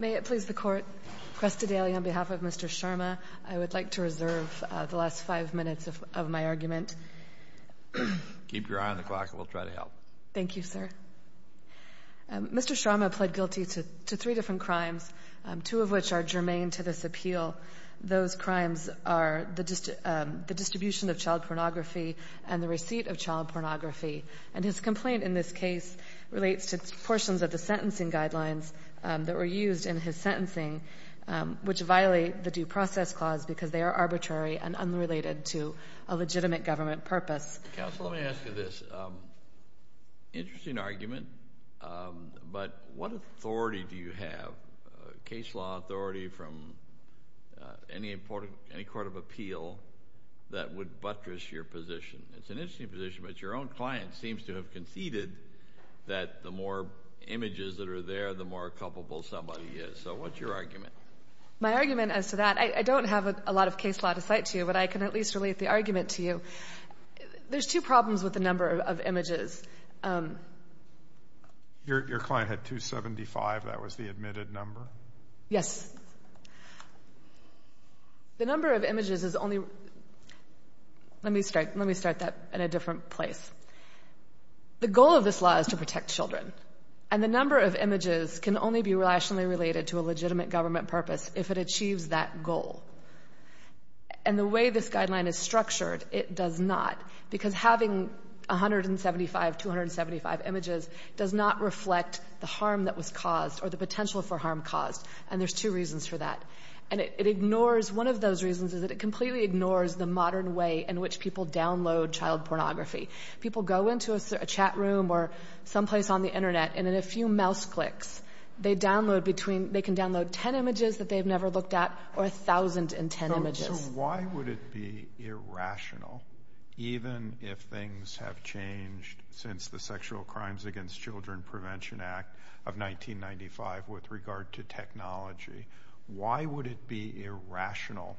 Mr. Sharma pled guilty to three different crimes, two of which are germane to this appeal. Those crimes are the distribution of child pornography and the receipt of child pornography. And his complaint in this case relates to portions of the sentencing guidelines that were used in his sentencing, which violate the Due Process Clause because they are arbitrary and unrelated to a legitimate government purpose. Counsel, let me ask you this. Interesting argument, but what authority do you have, case law authority, from any court of appeal that would buttress your position? It's an interesting position, but your own client seems to have conceded that the more images that are there, the more culpable somebody is. So what's your argument? My argument as to that, I don't have a lot of case law to cite to you, but I can at least relate the argument to you. There's two problems with the number of images. Your client had 275, that was the admitted number? Yes. The number of images is only, let me start that in a different place. The goal of this law is to protect children, and the number of images can only be rationally related to a legitimate government purpose if it achieves that goal. And the way this guideline is structured, it does not, because having 175, 275 images does not reflect the harm that was caused or the potential for harm caused, and there's two reasons for that. And it ignores, one of those reasons is that it completely ignores the modern way in which people download child pornography. People go into a chat room or someplace on the internet, and in a few mouse clicks, they download between, they can download 10 images that they've never looked at, or 1,000 in 10 images. So why would it be irrational, even if things have changed since the Sexual Crimes Against Children Prevention Act of 1995 with regard to technology, why would it be irrational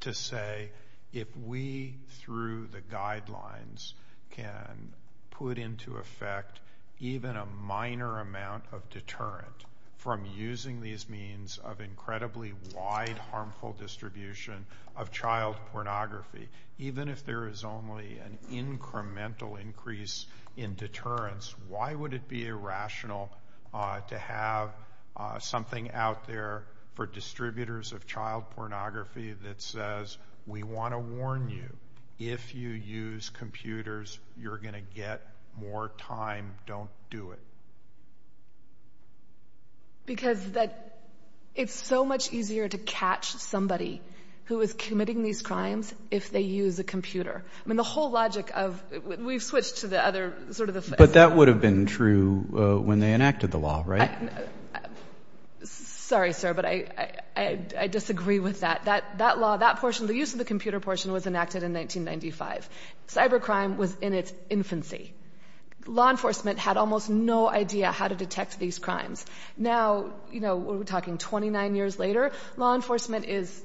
to say if we, through the guidelines, can put into effect even a minor amount of deterrent from using these means of incredibly wide harmful distribution of child pornography, even if there is only an incremental increase in deterrence, why would it be irrational to have something out there for distributors of child pornography that says, we want to warn you, if you use computers, you're going to get more time, don't do it? Because that, it's so much easier to catch somebody who is committing these crimes if they use a computer. I mean, the whole logic of, we've switched to the other, sort of the flip side. But that would have been true when they enacted the law, right? Sorry, sir, but I disagree with that. That law, that portion, the use of the computer portion was enacted in 1995. Cybercrime was in its infancy. Law enforcement had almost no idea how to detect these crimes. Now, we're talking 29 years later, law enforcement is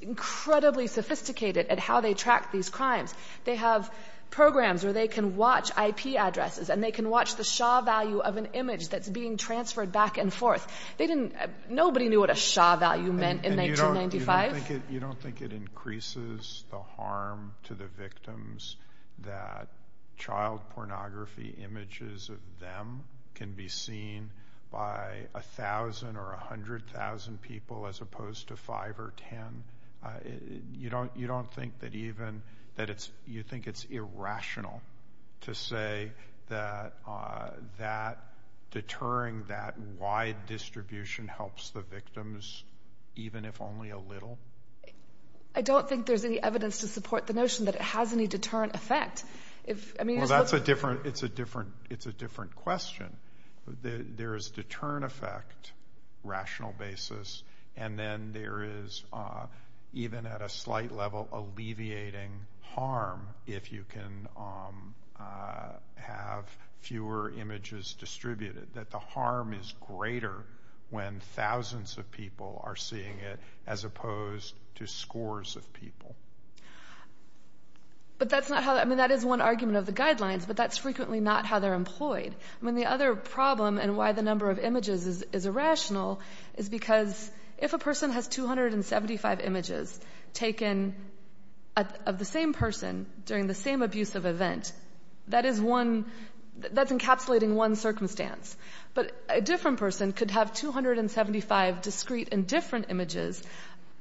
incredibly sophisticated at how they track these crimes. They have programs where they can watch IP addresses and they can watch the SHA value of an image that's being transferred back and forth. They didn't, nobody knew what a SHA value meant in 1995. You don't think it increases the harm to the victims that child pornography images of them can be seen by 1,000 or 100,000 people as opposed to 5 or 10? You don't think that even, that it's, you think it's irrational to say that deterring that wide distribution helps the victims even if only a little? I don't think there's any evidence to support the notion that it has any deterrent effect. Well, that's a different, it's a different question. There is deterrent effect, rational basis, and then there is, even at a slight level, alleviating harm if you can have fewer images distributed. That the harm is greater when thousands of people are seeing it as opposed to scores of people. But that's not how, I mean, that is one argument of the guidelines, but that's frequently not how they're employed. I mean, the other problem and why the number of images is irrational is because if a person has 275 images taken of the same person during the same abusive event, that is one, that's encapsulating one circumstance, but a different person could have 275 discrete and different images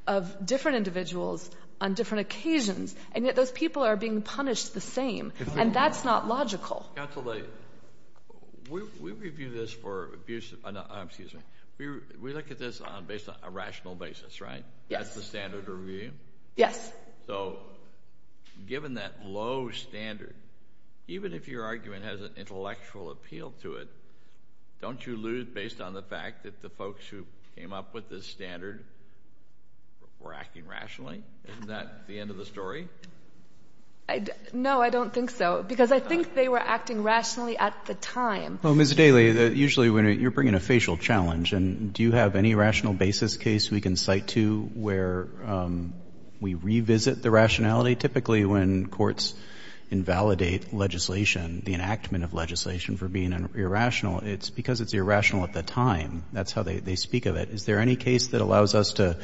of different individuals on different occasions, and yet those people are being punished the same, and that's not logical. Counsel, we review this for abusive, excuse me, we look at this on a rational basis, right? Yes. That's the standard review? Yes. So, given that low standard, even if your argument has an intellectual appeal to it, don't you lose based on the fact that the folks who came up with this standard were acting rationally? Isn't that the end of the story? No, I don't think so, because I think they were acting rationally at the time. Well, Ms. Daly, usually when you're bringing a facial challenge, and do you have any rational basis case we can cite to where we revisit the rationality? Typically when courts invalidate legislation, the enactment of legislation for being irrational, it's because it's irrational at the time. That's how they speak of it. Is there any case that allows us to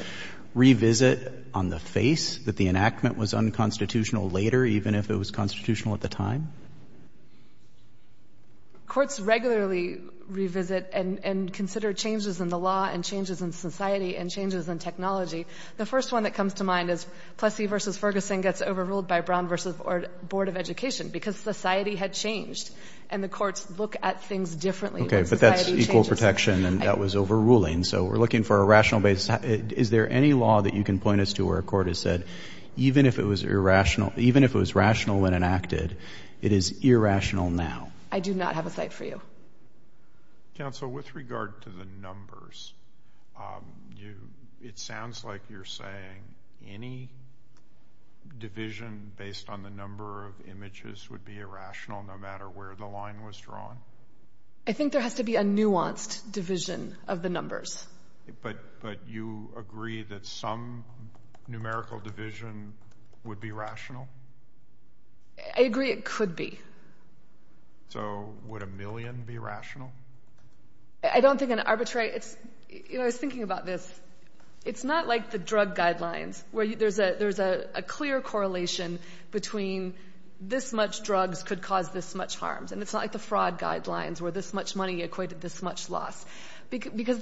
revisit on the face that the enactment was unconstitutional later, even if it was constitutional at the time? Courts regularly revisit and consider changes in the law and changes in society and changes in technology. The first one that comes to mind is Plessy v. Ferguson gets overruled by Brown v. Board of Education because society had changed, and the courts look at things differently. Okay, but that's equal protection, and that was overruling, so we're looking for a rational basis. Is there any law that you can point us to where a court has said even if it was rational when enacted, it is irrational now? I do not have a cite for you. Counsel, with regard to the numbers, it sounds like you're saying any division based on the number of images would be irrational no matter where the line was drawn? I think there has to be a nuanced division of the numbers. But you agree that some numerical division would be rational? I agree it could be. So would a million be rational? I don't think an arbitrary – you know, I was thinking about this. It's not like the drug guidelines where there's a clear correlation between this much drugs could cause this much harms, and it's not like the fraud guidelines where this much money equated this much loss. Because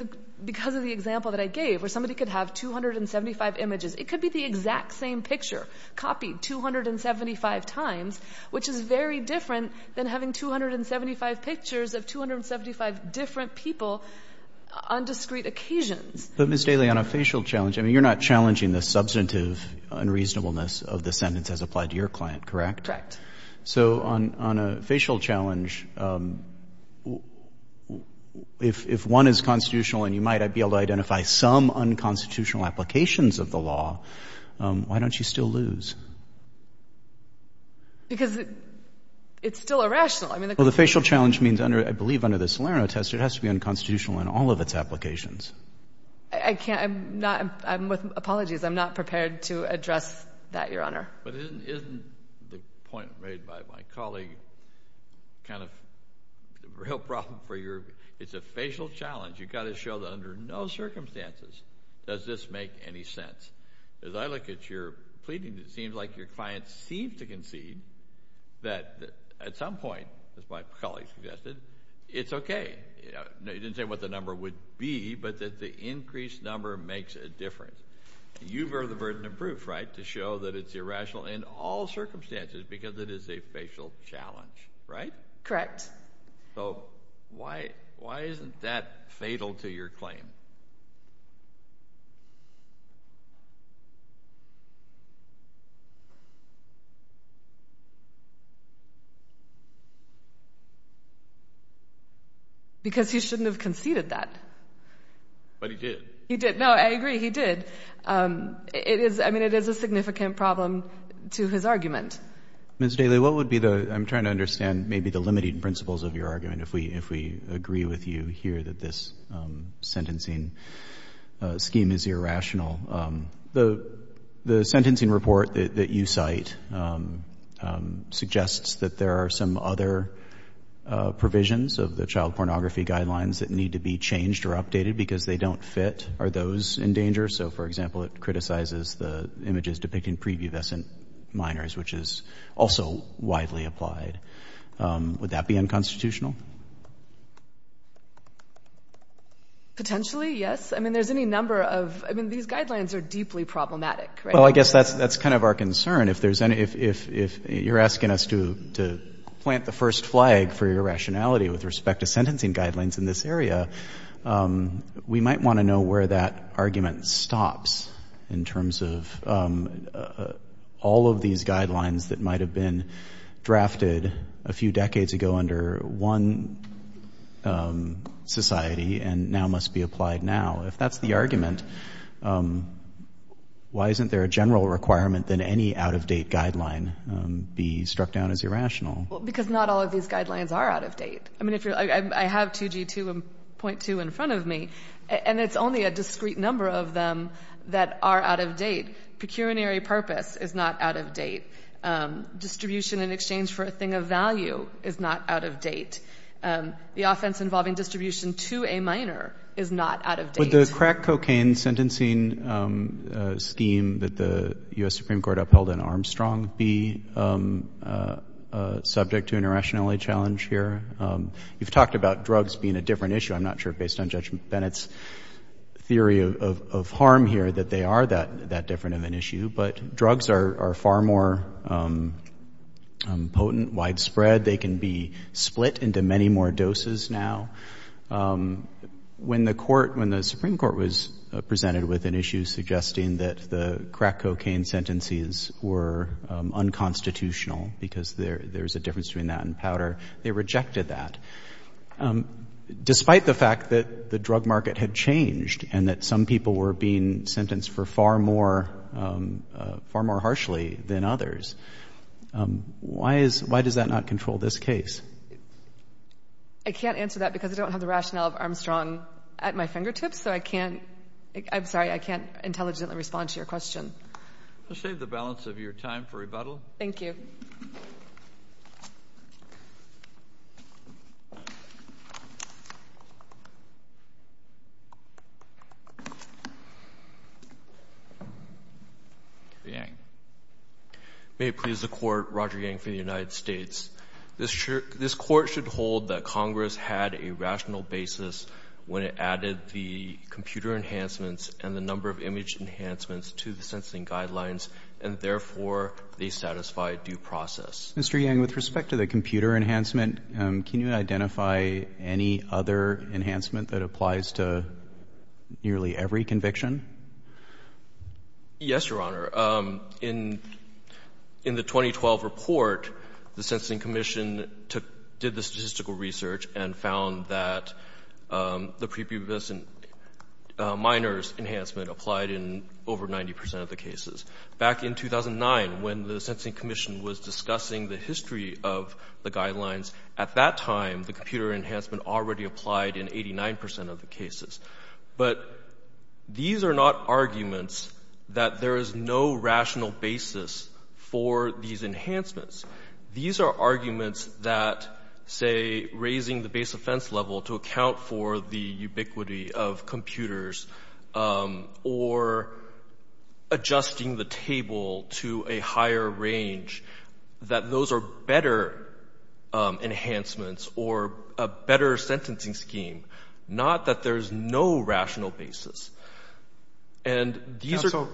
of the example that I gave where somebody could have 275 images. It could be the exact same picture copied 275 times, which is very different than having 275 pictures of 275 different people on discrete occasions. But, Ms. Daly, on a facial challenge, I mean, you're not challenging the substantive unreasonableness of the sentence as applied to your client, correct? Correct. So on a facial challenge, if one is constitutional and you might be able to identify some unconstitutional applications of the law, why don't you still lose? Because it's still irrational. Well, the facial challenge means, I believe under the Salerno test, it has to be unconstitutional in all of its applications. I can't – I'm not – apologies. I'm not prepared to address that, Your Honor. But isn't the point made by my colleague kind of a real problem for your – it's a facial challenge. You've got to show that under no circumstances does this make any sense. As I look at your pleading, it seems like your client seems to concede that at some point, as my colleague suggested, it's okay. You didn't say what the number would be, but that the increased number makes a difference. You bear the burden of proof, right, to show that it's irrational in all circumstances because it is a facial challenge, right? Correct. So why isn't that fatal to your claim? Because he shouldn't have conceded that. But he did. He did. No, I agree. He did. It is – I mean, it is a significant problem to his argument. Ms. Daly, what would be the – I'm trying to understand maybe the limited principles of your argument if we agree with you here that this sentencing scheme is irrational. The sentencing report that you cite suggests that there are some other provisions of the child pornography guidelines that need to be changed or updated because they don't fit. Are those in danger? So, for example, it criticizes the images depicting previovescent minors, which is also widely applied. Would that be unconstitutional? Potentially, yes. I mean, there's any number of – I mean, these guidelines are deeply problematic, right? Well, I guess that's kind of our concern. If there's any – if you're asking us to plant the first flag for irrationality with respect to sentencing guidelines in this area, we might want to know where that argument stops in terms of all of these guidelines that might have been drafted a few decades ago under one society and now must be applied now. If that's the argument, why isn't there a general requirement that any out-of-date guideline be struck down as irrational? Well, because not all of these guidelines are out-of-date. I mean, if you're – I have 2G2.2 in front of me, and it's only a discrete number of them that are out-of-date. Pecuniary purpose is not out-of-date. Distribution in exchange for a thing of value is not out-of-date. The offense involving distribution to a minor is not out-of-date. Would the crack cocaine sentencing scheme that the U.S. Supreme Court upheld in Armstrong be subject to an irrationality challenge here? You've talked about drugs being a different issue. I'm not sure, based on Judge Bennett's theory of harm here, that they are that different of an issue. But drugs are far more potent, widespread. They can be split into many more doses now. When the court – when the Supreme Court was presented with an issue suggesting that the crack cocaine sentences were unconstitutional because there's a difference between that and powder, they rejected that. Despite the fact that the drug market had changed and that some people were being sentenced for far more harshly than others, why is – why does that not control this case? I can't answer that because I don't have the rationale of Armstrong at my fingertips, so I can't – I'm sorry, I can't intelligently respond to your question. I'll save the balance of your time for rebuttal. Thank you. Yang. May it please the Court, Roger Yang for the United States. This Court should hold that Congress had a rational basis when it added the computer enhancements and the number of image enhancements to the sentencing guidelines, and therefore they satisfy due process. Mr. Yang, with respect to the computer enhancement, can you identify any other enhancement that applies to nearly every conviction? Yes, Your Honor. In the 2012 report, the Sentencing Commission did the statistical research and found that the prepubescent minors enhancement applied in over 90 percent of the cases. Back in 2009, when the Sentencing Commission was discussing the history of the guidelines, at that time the computer enhancement already applied in 89 percent of the cases. But these are not arguments that there is no rational basis for these enhancements. These are arguments that, say, raising the base offense level to account for the ubiquity of computers or adjusting the table to a higher range, that those are better enhancements or a better sentencing scheme. Not that there is no rational basis. Counsel,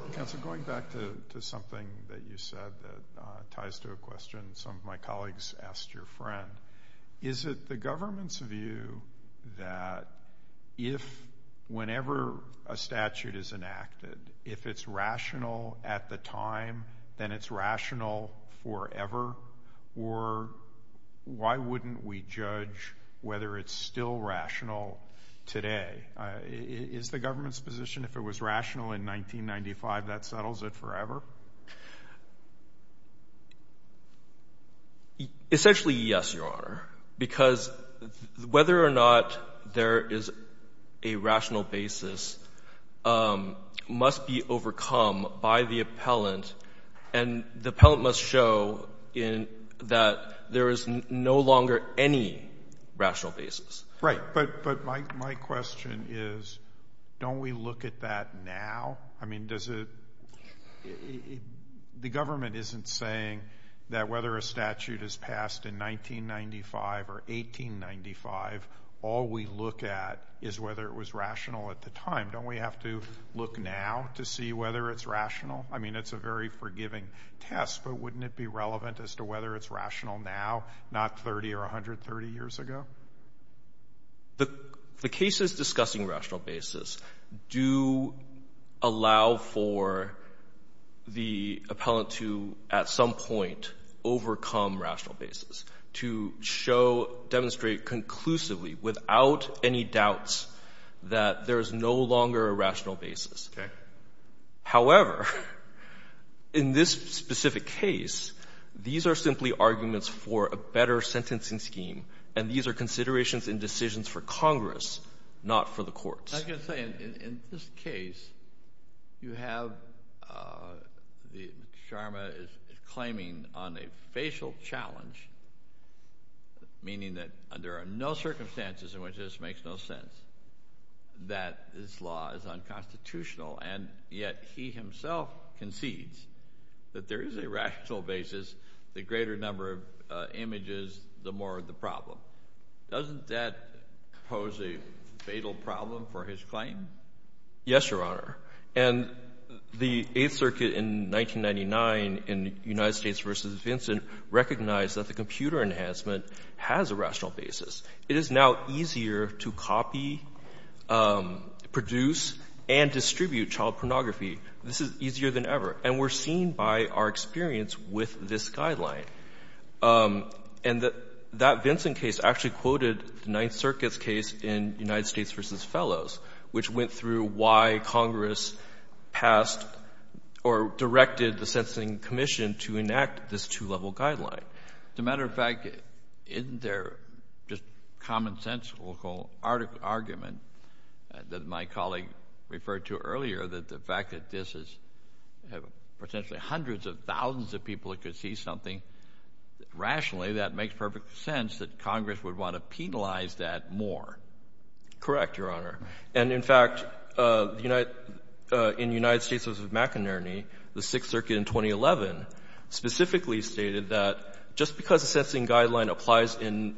going back to something that you said that ties to a question some of my colleagues asked your friend, is it the government's view that whenever a statute is enacted, if it's rational at the time, then it's rational forever? Or why wouldn't we judge whether it's still rational today? Is the government's position if it was rational in 1995, that settles it forever? Essentially, yes, Your Honor, because whether or not there is a rational basis must be overcome by the appellant, and the appellant must show that there is no longer any rational basis. Right. But my question is, don't we look at that now? I mean, the government isn't saying that whether a statute is passed in 1995 or 1895, all we look at is whether it was rational at the time. Don't we have to look now to see whether it's rational? I mean, it's a very forgiving test, but wouldn't it be relevant as to whether it's rational now, not 30 or 130 years ago? The cases discussing rational basis do allow for the appellant to, at some point, overcome rational basis, to demonstrate conclusively, without any doubts, that there is no longer a rational basis. However, in this specific case, these are simply arguments for a better sentencing scheme, and these are considerations and decisions for Congress, not for the courts. I was going to say, in this case, you have Sharma claiming on a facial challenge, meaning that there are no circumstances in which this makes no sense, that this law is unconstitutional, and yet he himself concedes that there is a rational basis. The greater number of images, the more the problem. Doesn't that pose a fatal problem for his claim? Yes, Your Honor. And the Eighth Circuit in 1999, in United States v. Vincent, recognized that the computer enhancement has a rational basis. It is now easier to copy, produce, and distribute child pornography. This is easier than ever, and we're seeing by our experience with this guideline. And that Vincent case actually quoted the Ninth Circuit's case in United States v. Fellows, which went through why Congress passed or directed the Sentencing Commission to enact this two-level guideline. As a matter of fact, isn't there just common-sensical argument that my colleague referred to earlier, that the fact that this is potentially hundreds of thousands of people that could see something rationally, that makes perfect sense that Congress would want to penalize that more? Correct, Your Honor. And, in fact, in United States v. McInerney, the Sixth Circuit in 2011 specifically stated that just because a sentencing guideline applies in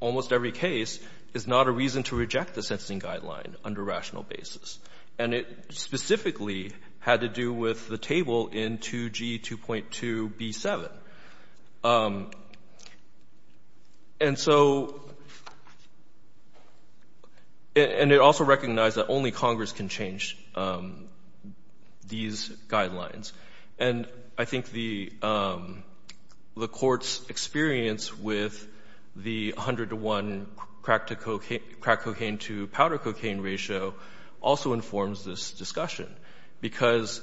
almost every case is not a reason to reject the sentencing guideline under rational basis. And it specifically had to do with the table in 2G 2.2b7. And so — and it also recognized that only Congress can change these guidelines. And I think the Court's experience with the 101 crack-to-cocaine — crack-to-cocaine-to-powder-cocaine ratio also informs this discussion, because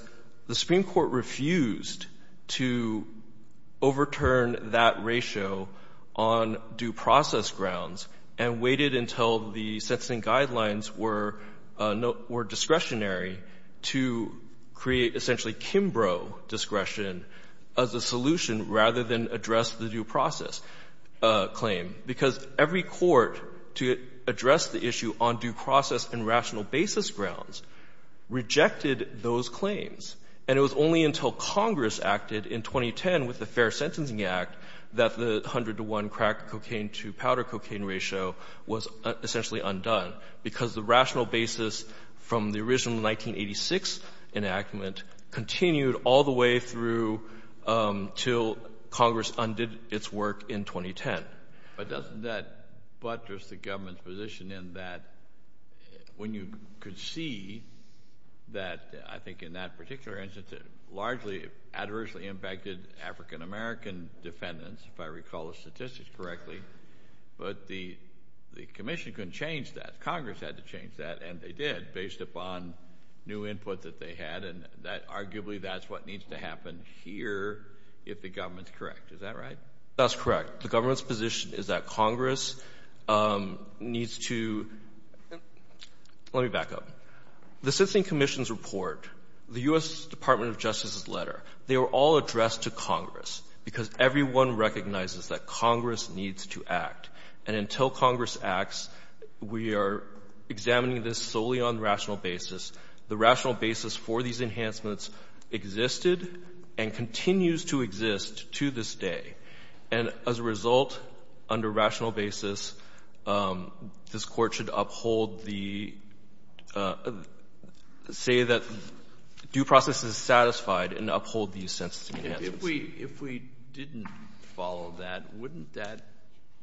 the Supreme Court refused to overturn that ratio on due process grounds and waited until the sentencing guidelines were discretionary to create essentially Kimbrough discretion as a solution rather than address the due process claim. Because every court to address the issue on due process and rational basis grounds rejected those claims. And it was only until Congress acted in 2010 with the Fair Sentencing Act that the 101 crack-cocaine-to-powder-cocaine ratio was essentially undone, because the rational basis from the original 1986 enactment continued all the way through until Congress undid its work in 2010. But doesn't that buttress the government's position in that when you could see that, I think in that particular instance, it largely adversely impacted African American defendants, if I recall the statistics correctly, but the commission couldn't change that. Congress had to change that, and they did, based upon new input that they had. And arguably that's what needs to happen here if the government's correct. Is that right? That's correct. The government's position is that Congress needs to – let me back up. The sentencing commission's report, the U.S. Department of Justice's letter, they were all addressed to Congress, because everyone recognizes that Congress needs to act. And until Congress acts, we are examining this solely on rational basis. The rational basis for these enhancements existed and continues to exist to this day. And as a result, under rational basis, this Court should uphold the – say that due process is satisfied and uphold these sentencing enhancements. If we didn't follow that, wouldn't that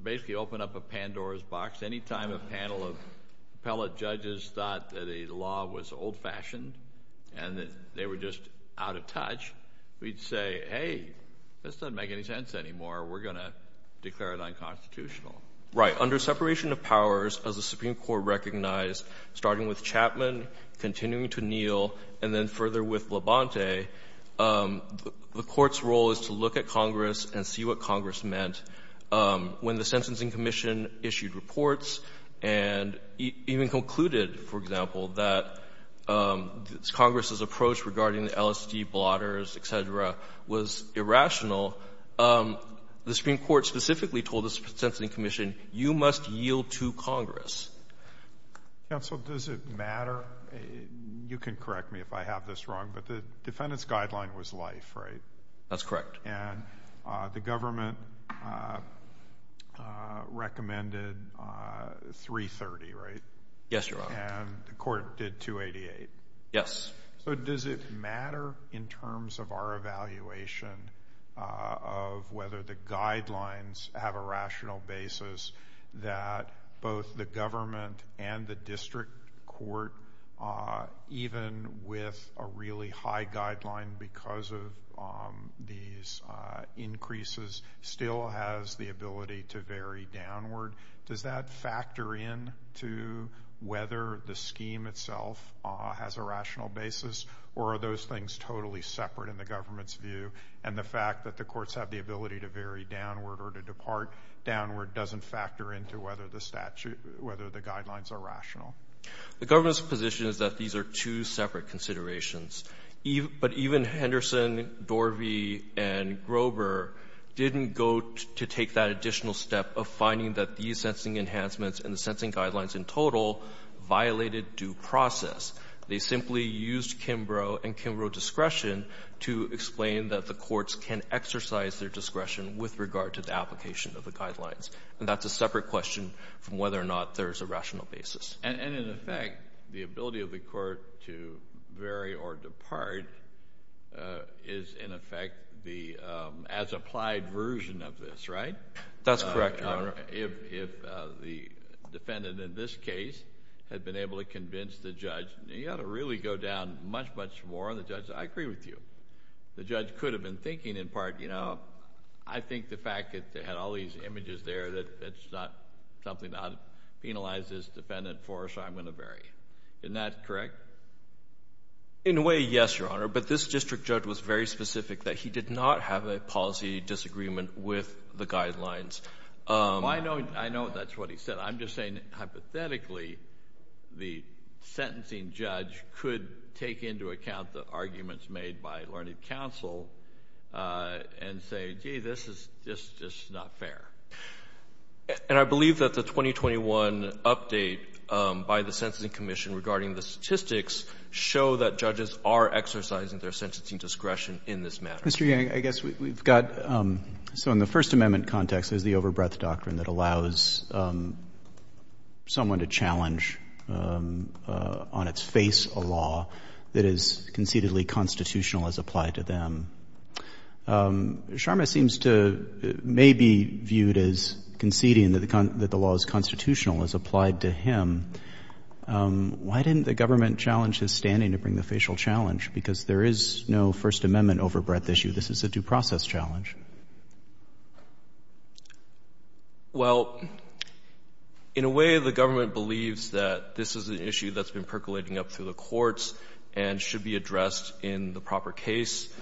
basically open up a Pandora's box? Any time a panel of appellate judges thought that a law was old-fashioned and that they were just out of touch, we'd say, hey, this doesn't make any sense anymore. We're going to declare it unconstitutional. Right. Under separation of powers, as the Supreme Court recognized, starting with Chapman, continuing to Neal, and then further with Labonte, the Court's role is to look at Congress and see what Congress meant. When the Sentencing Commission issued reports and even concluded, for example, that Congress's approach regarding the LSD blotters, et cetera, was irrational, the Supreme Court specifically told the Sentencing Commission, you must yield to Congress. Counsel, does it matter? You can correct me if I have this wrong, but the defendant's guideline was life, right? That's correct. And the government recommended 330, right? Yes, Your Honor. And the court did 288. Yes. So does it matter in terms of our evaluation of whether the guidelines have a rational basis that both the government and the district court, even with a really high guideline because of these increases, still has the ability to vary downward? Does that factor in to whether the scheme itself has a rational basis or are those things totally separate in the government's view? And the fact that the courts have the ability to vary downward or to depart downward doesn't factor into whether the guidelines are rational. The government's position is that these are two separate considerations, but even Henderson, Dorvey, and Grover didn't go to take that additional step of finding that these sensing enhancements and the sensing guidelines in total violated due process. They simply used Kimbrough and Kimbrough discretion to explain that the courts can exercise their discretion with regard to the application of the guidelines, and that's a separate question from whether or not there's a rational basis. And, in effect, the ability of the court to vary or depart is, in effect, the as-applied version of this, right? That's correct, Your Honor. If the defendant in this case had been able to convince the judge, you ought to really go down much, much more on the judge. I agree with you. The judge could have been thinking in part, you know, I think the fact that they had all these images there, that it's not something that penalizes the defendant for, so I'm going to vary. Isn't that correct? In a way, yes, Your Honor, but this district judge was very specific that he did not have a policy disagreement with the guidelines. I know that's what he said. I'm just saying, hypothetically, the sentencing judge could take into account the arguments made by learning counsel and say, gee, this is just not fair. And I believe that the 2021 update by the Sentencing Commission regarding the statistics show that judges are exercising their sentencing discretion in this matter. Mr. Yang, I guess we've got so in the First Amendment context, there's the over-breath doctrine that allows someone to challenge on its face a law that is concededly constitutional as applied to them. Sharma seems to maybe viewed as conceding that the law is constitutional as applied to him. Why didn't the government challenge his standing to bring the facial challenge? Because there is no First Amendment over-breath issue. This is a due process challenge. Well, in a way, the government believes that this is an issue that's been percolating up through the courts and should be addressed in the proper case.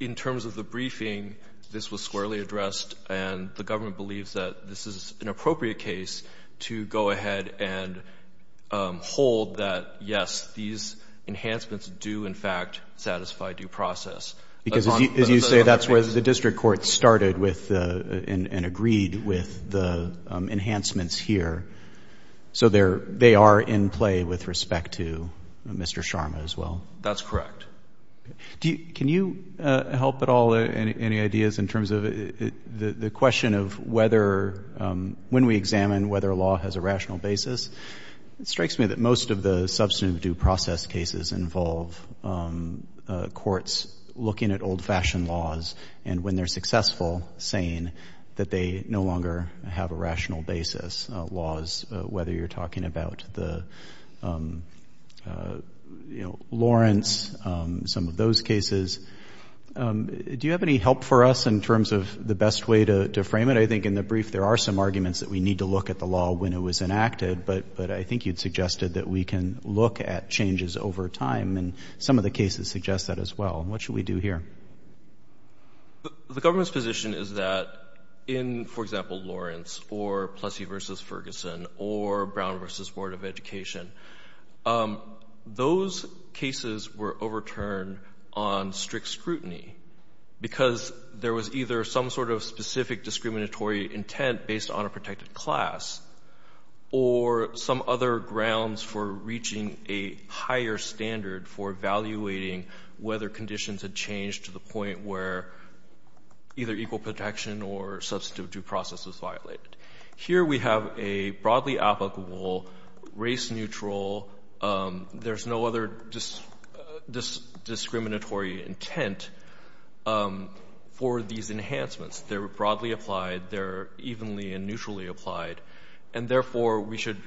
In terms of the briefing, this was squarely addressed, and the government believes that this is an appropriate case to go ahead and hold that, yes, these enhancements do, in fact, satisfy due process. Because as you say, that's where the district court started with and agreed with the enhancements here. So they are in play with respect to Mr. Sharma as well? That's correct. Can you help at all any ideas in terms of the question of whether, when we examine whether a law has a rational basis, it strikes me that most of the substantive due process cases involve courts looking at old-fashioned laws and, when they're successful, saying that they no longer have a rational basis laws, whether you're talking about the Lawrence, some of those cases. Do you have any help for us in terms of the best way to frame it? I think in the brief there are some arguments that we need to look at the law when it was enacted, but I think you'd suggested that we can look at changes over time, and some of the cases suggest that as well. What should we do here? The government's position is that in, for example, Lawrence or Plessy v. Ferguson or Brown v. Board of Education, those cases were overturned on strict scrutiny because there was either some sort of specific discriminatory intent based on a protected class or some other grounds for reaching a higher standard for evaluating whether conditions had changed to the point where either equal protection or substantive due process was violated. Here we have a broadly applicable, race-neutral, there's no other discriminatory intent for these enhancements. They're broadly applied. They're evenly and neutrally applied. And therefore, we should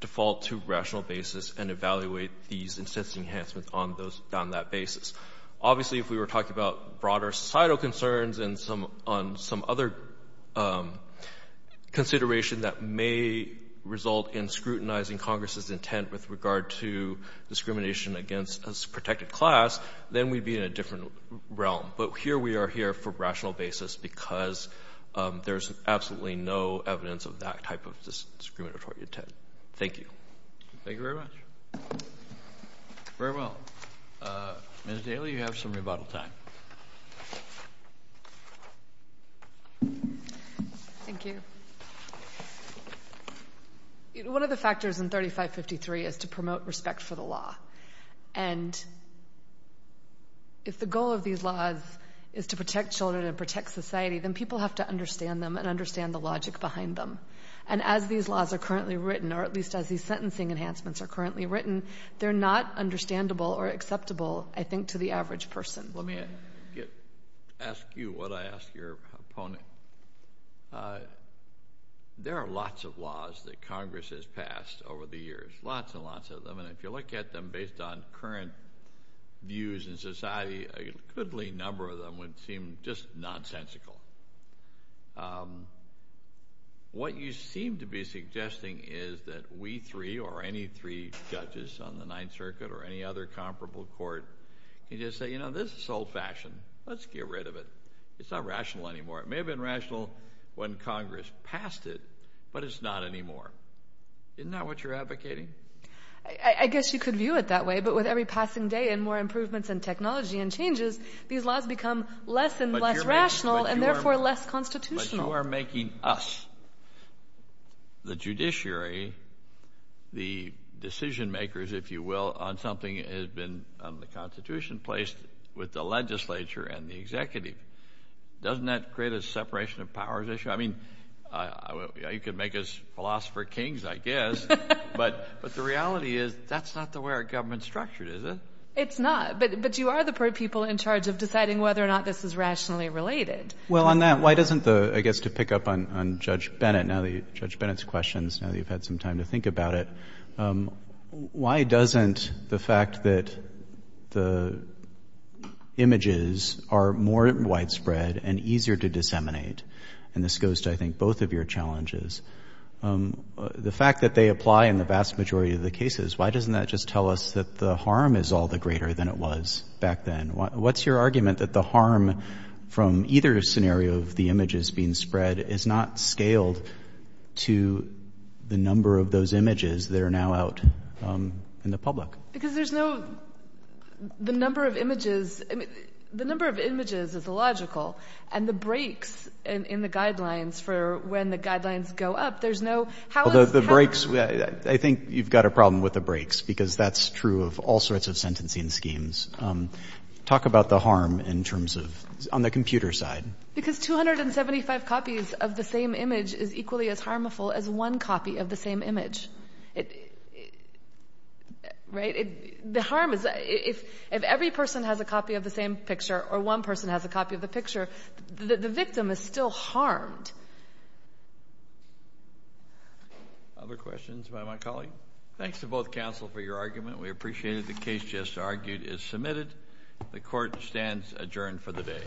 default to rational basis and evaluate these incentive enhancements on those — on that basis. Obviously, if we were talking about broader societal concerns and some — on some other consideration that may result in scrutinizing Congress's intent with regard to discrimination against a protected class, then we'd be in a different realm. But here we are here for rational basis because there's absolutely no evidence of that type of discriminatory intent. Thank you. Thank you very much. Very well. Ms. Daly, you have some rebuttal time. Thank you. One of the factors in 3553 is to promote respect for the law. And if the goal of these laws is to protect children and protect society, then people have to understand them and understand the logic behind them. And as these laws are currently written, or at least as these sentencing enhancements are currently written, they're not understandable or acceptable, I think, to the average person. Let me ask you what I ask your opponent. There are lots of laws that Congress has passed over the years, lots and lots of them. And if you look at them based on current views in society, a goodly number of them would seem just nonsensical. What you seem to be suggesting is that we three or any three judges on the Ninth Circuit or any other comparable court can just say, you know, this is old-fashioned. Let's get rid of it. It's not rational anymore. It may have been rational when Congress passed it, but it's not anymore. Isn't that what you're advocating? I guess you could view it that way. But with every passing day and more improvements in technology and changes, these laws become less and less rational and therefore less constitutional. But you are making us, the judiciary, the decision-makers, if you will, on something that has been on the Constitution placed with the legislature and the executive. Doesn't that create a separation of powers issue? I mean, you could make us philosopher kings, I guess. But the reality is that's not the way our government's structured, is it? It's not. But you are the people in charge of deciding whether or not this is rationally related. Well, on that, why doesn't the, I guess, to pick up on Judge Bennett, now that you've had some time to think about it, why doesn't the fact that the images are more widespread and easier to disseminate and this goes to, I think, both of your challenges, the fact that they apply in the vast majority of the cases, why doesn't that just tell us that the harm is all the greater than it was back then? What's your argument that the harm from either scenario of the images being spread is not scaled to the number of those images that are now out in the public? Because there's no, the number of images, the number of images is illogical and the breaks in the guidelines for when the guidelines go up, there's no, how is, how is Well, the breaks, I think you've got a problem with the breaks because that's true of all sorts of sentencing schemes. Talk about the harm in terms of, on the computer side. Because 275 copies of the same image is equally as harmful as one copy of the same image. The harm is, if every person has a copy of the same picture or one person has a copy of the picture, the victim is still harmed. Other questions by my colleague? Thanks to both counsel for your argument. We appreciate it. The case just argued is submitted. The court stands adjourned for the day.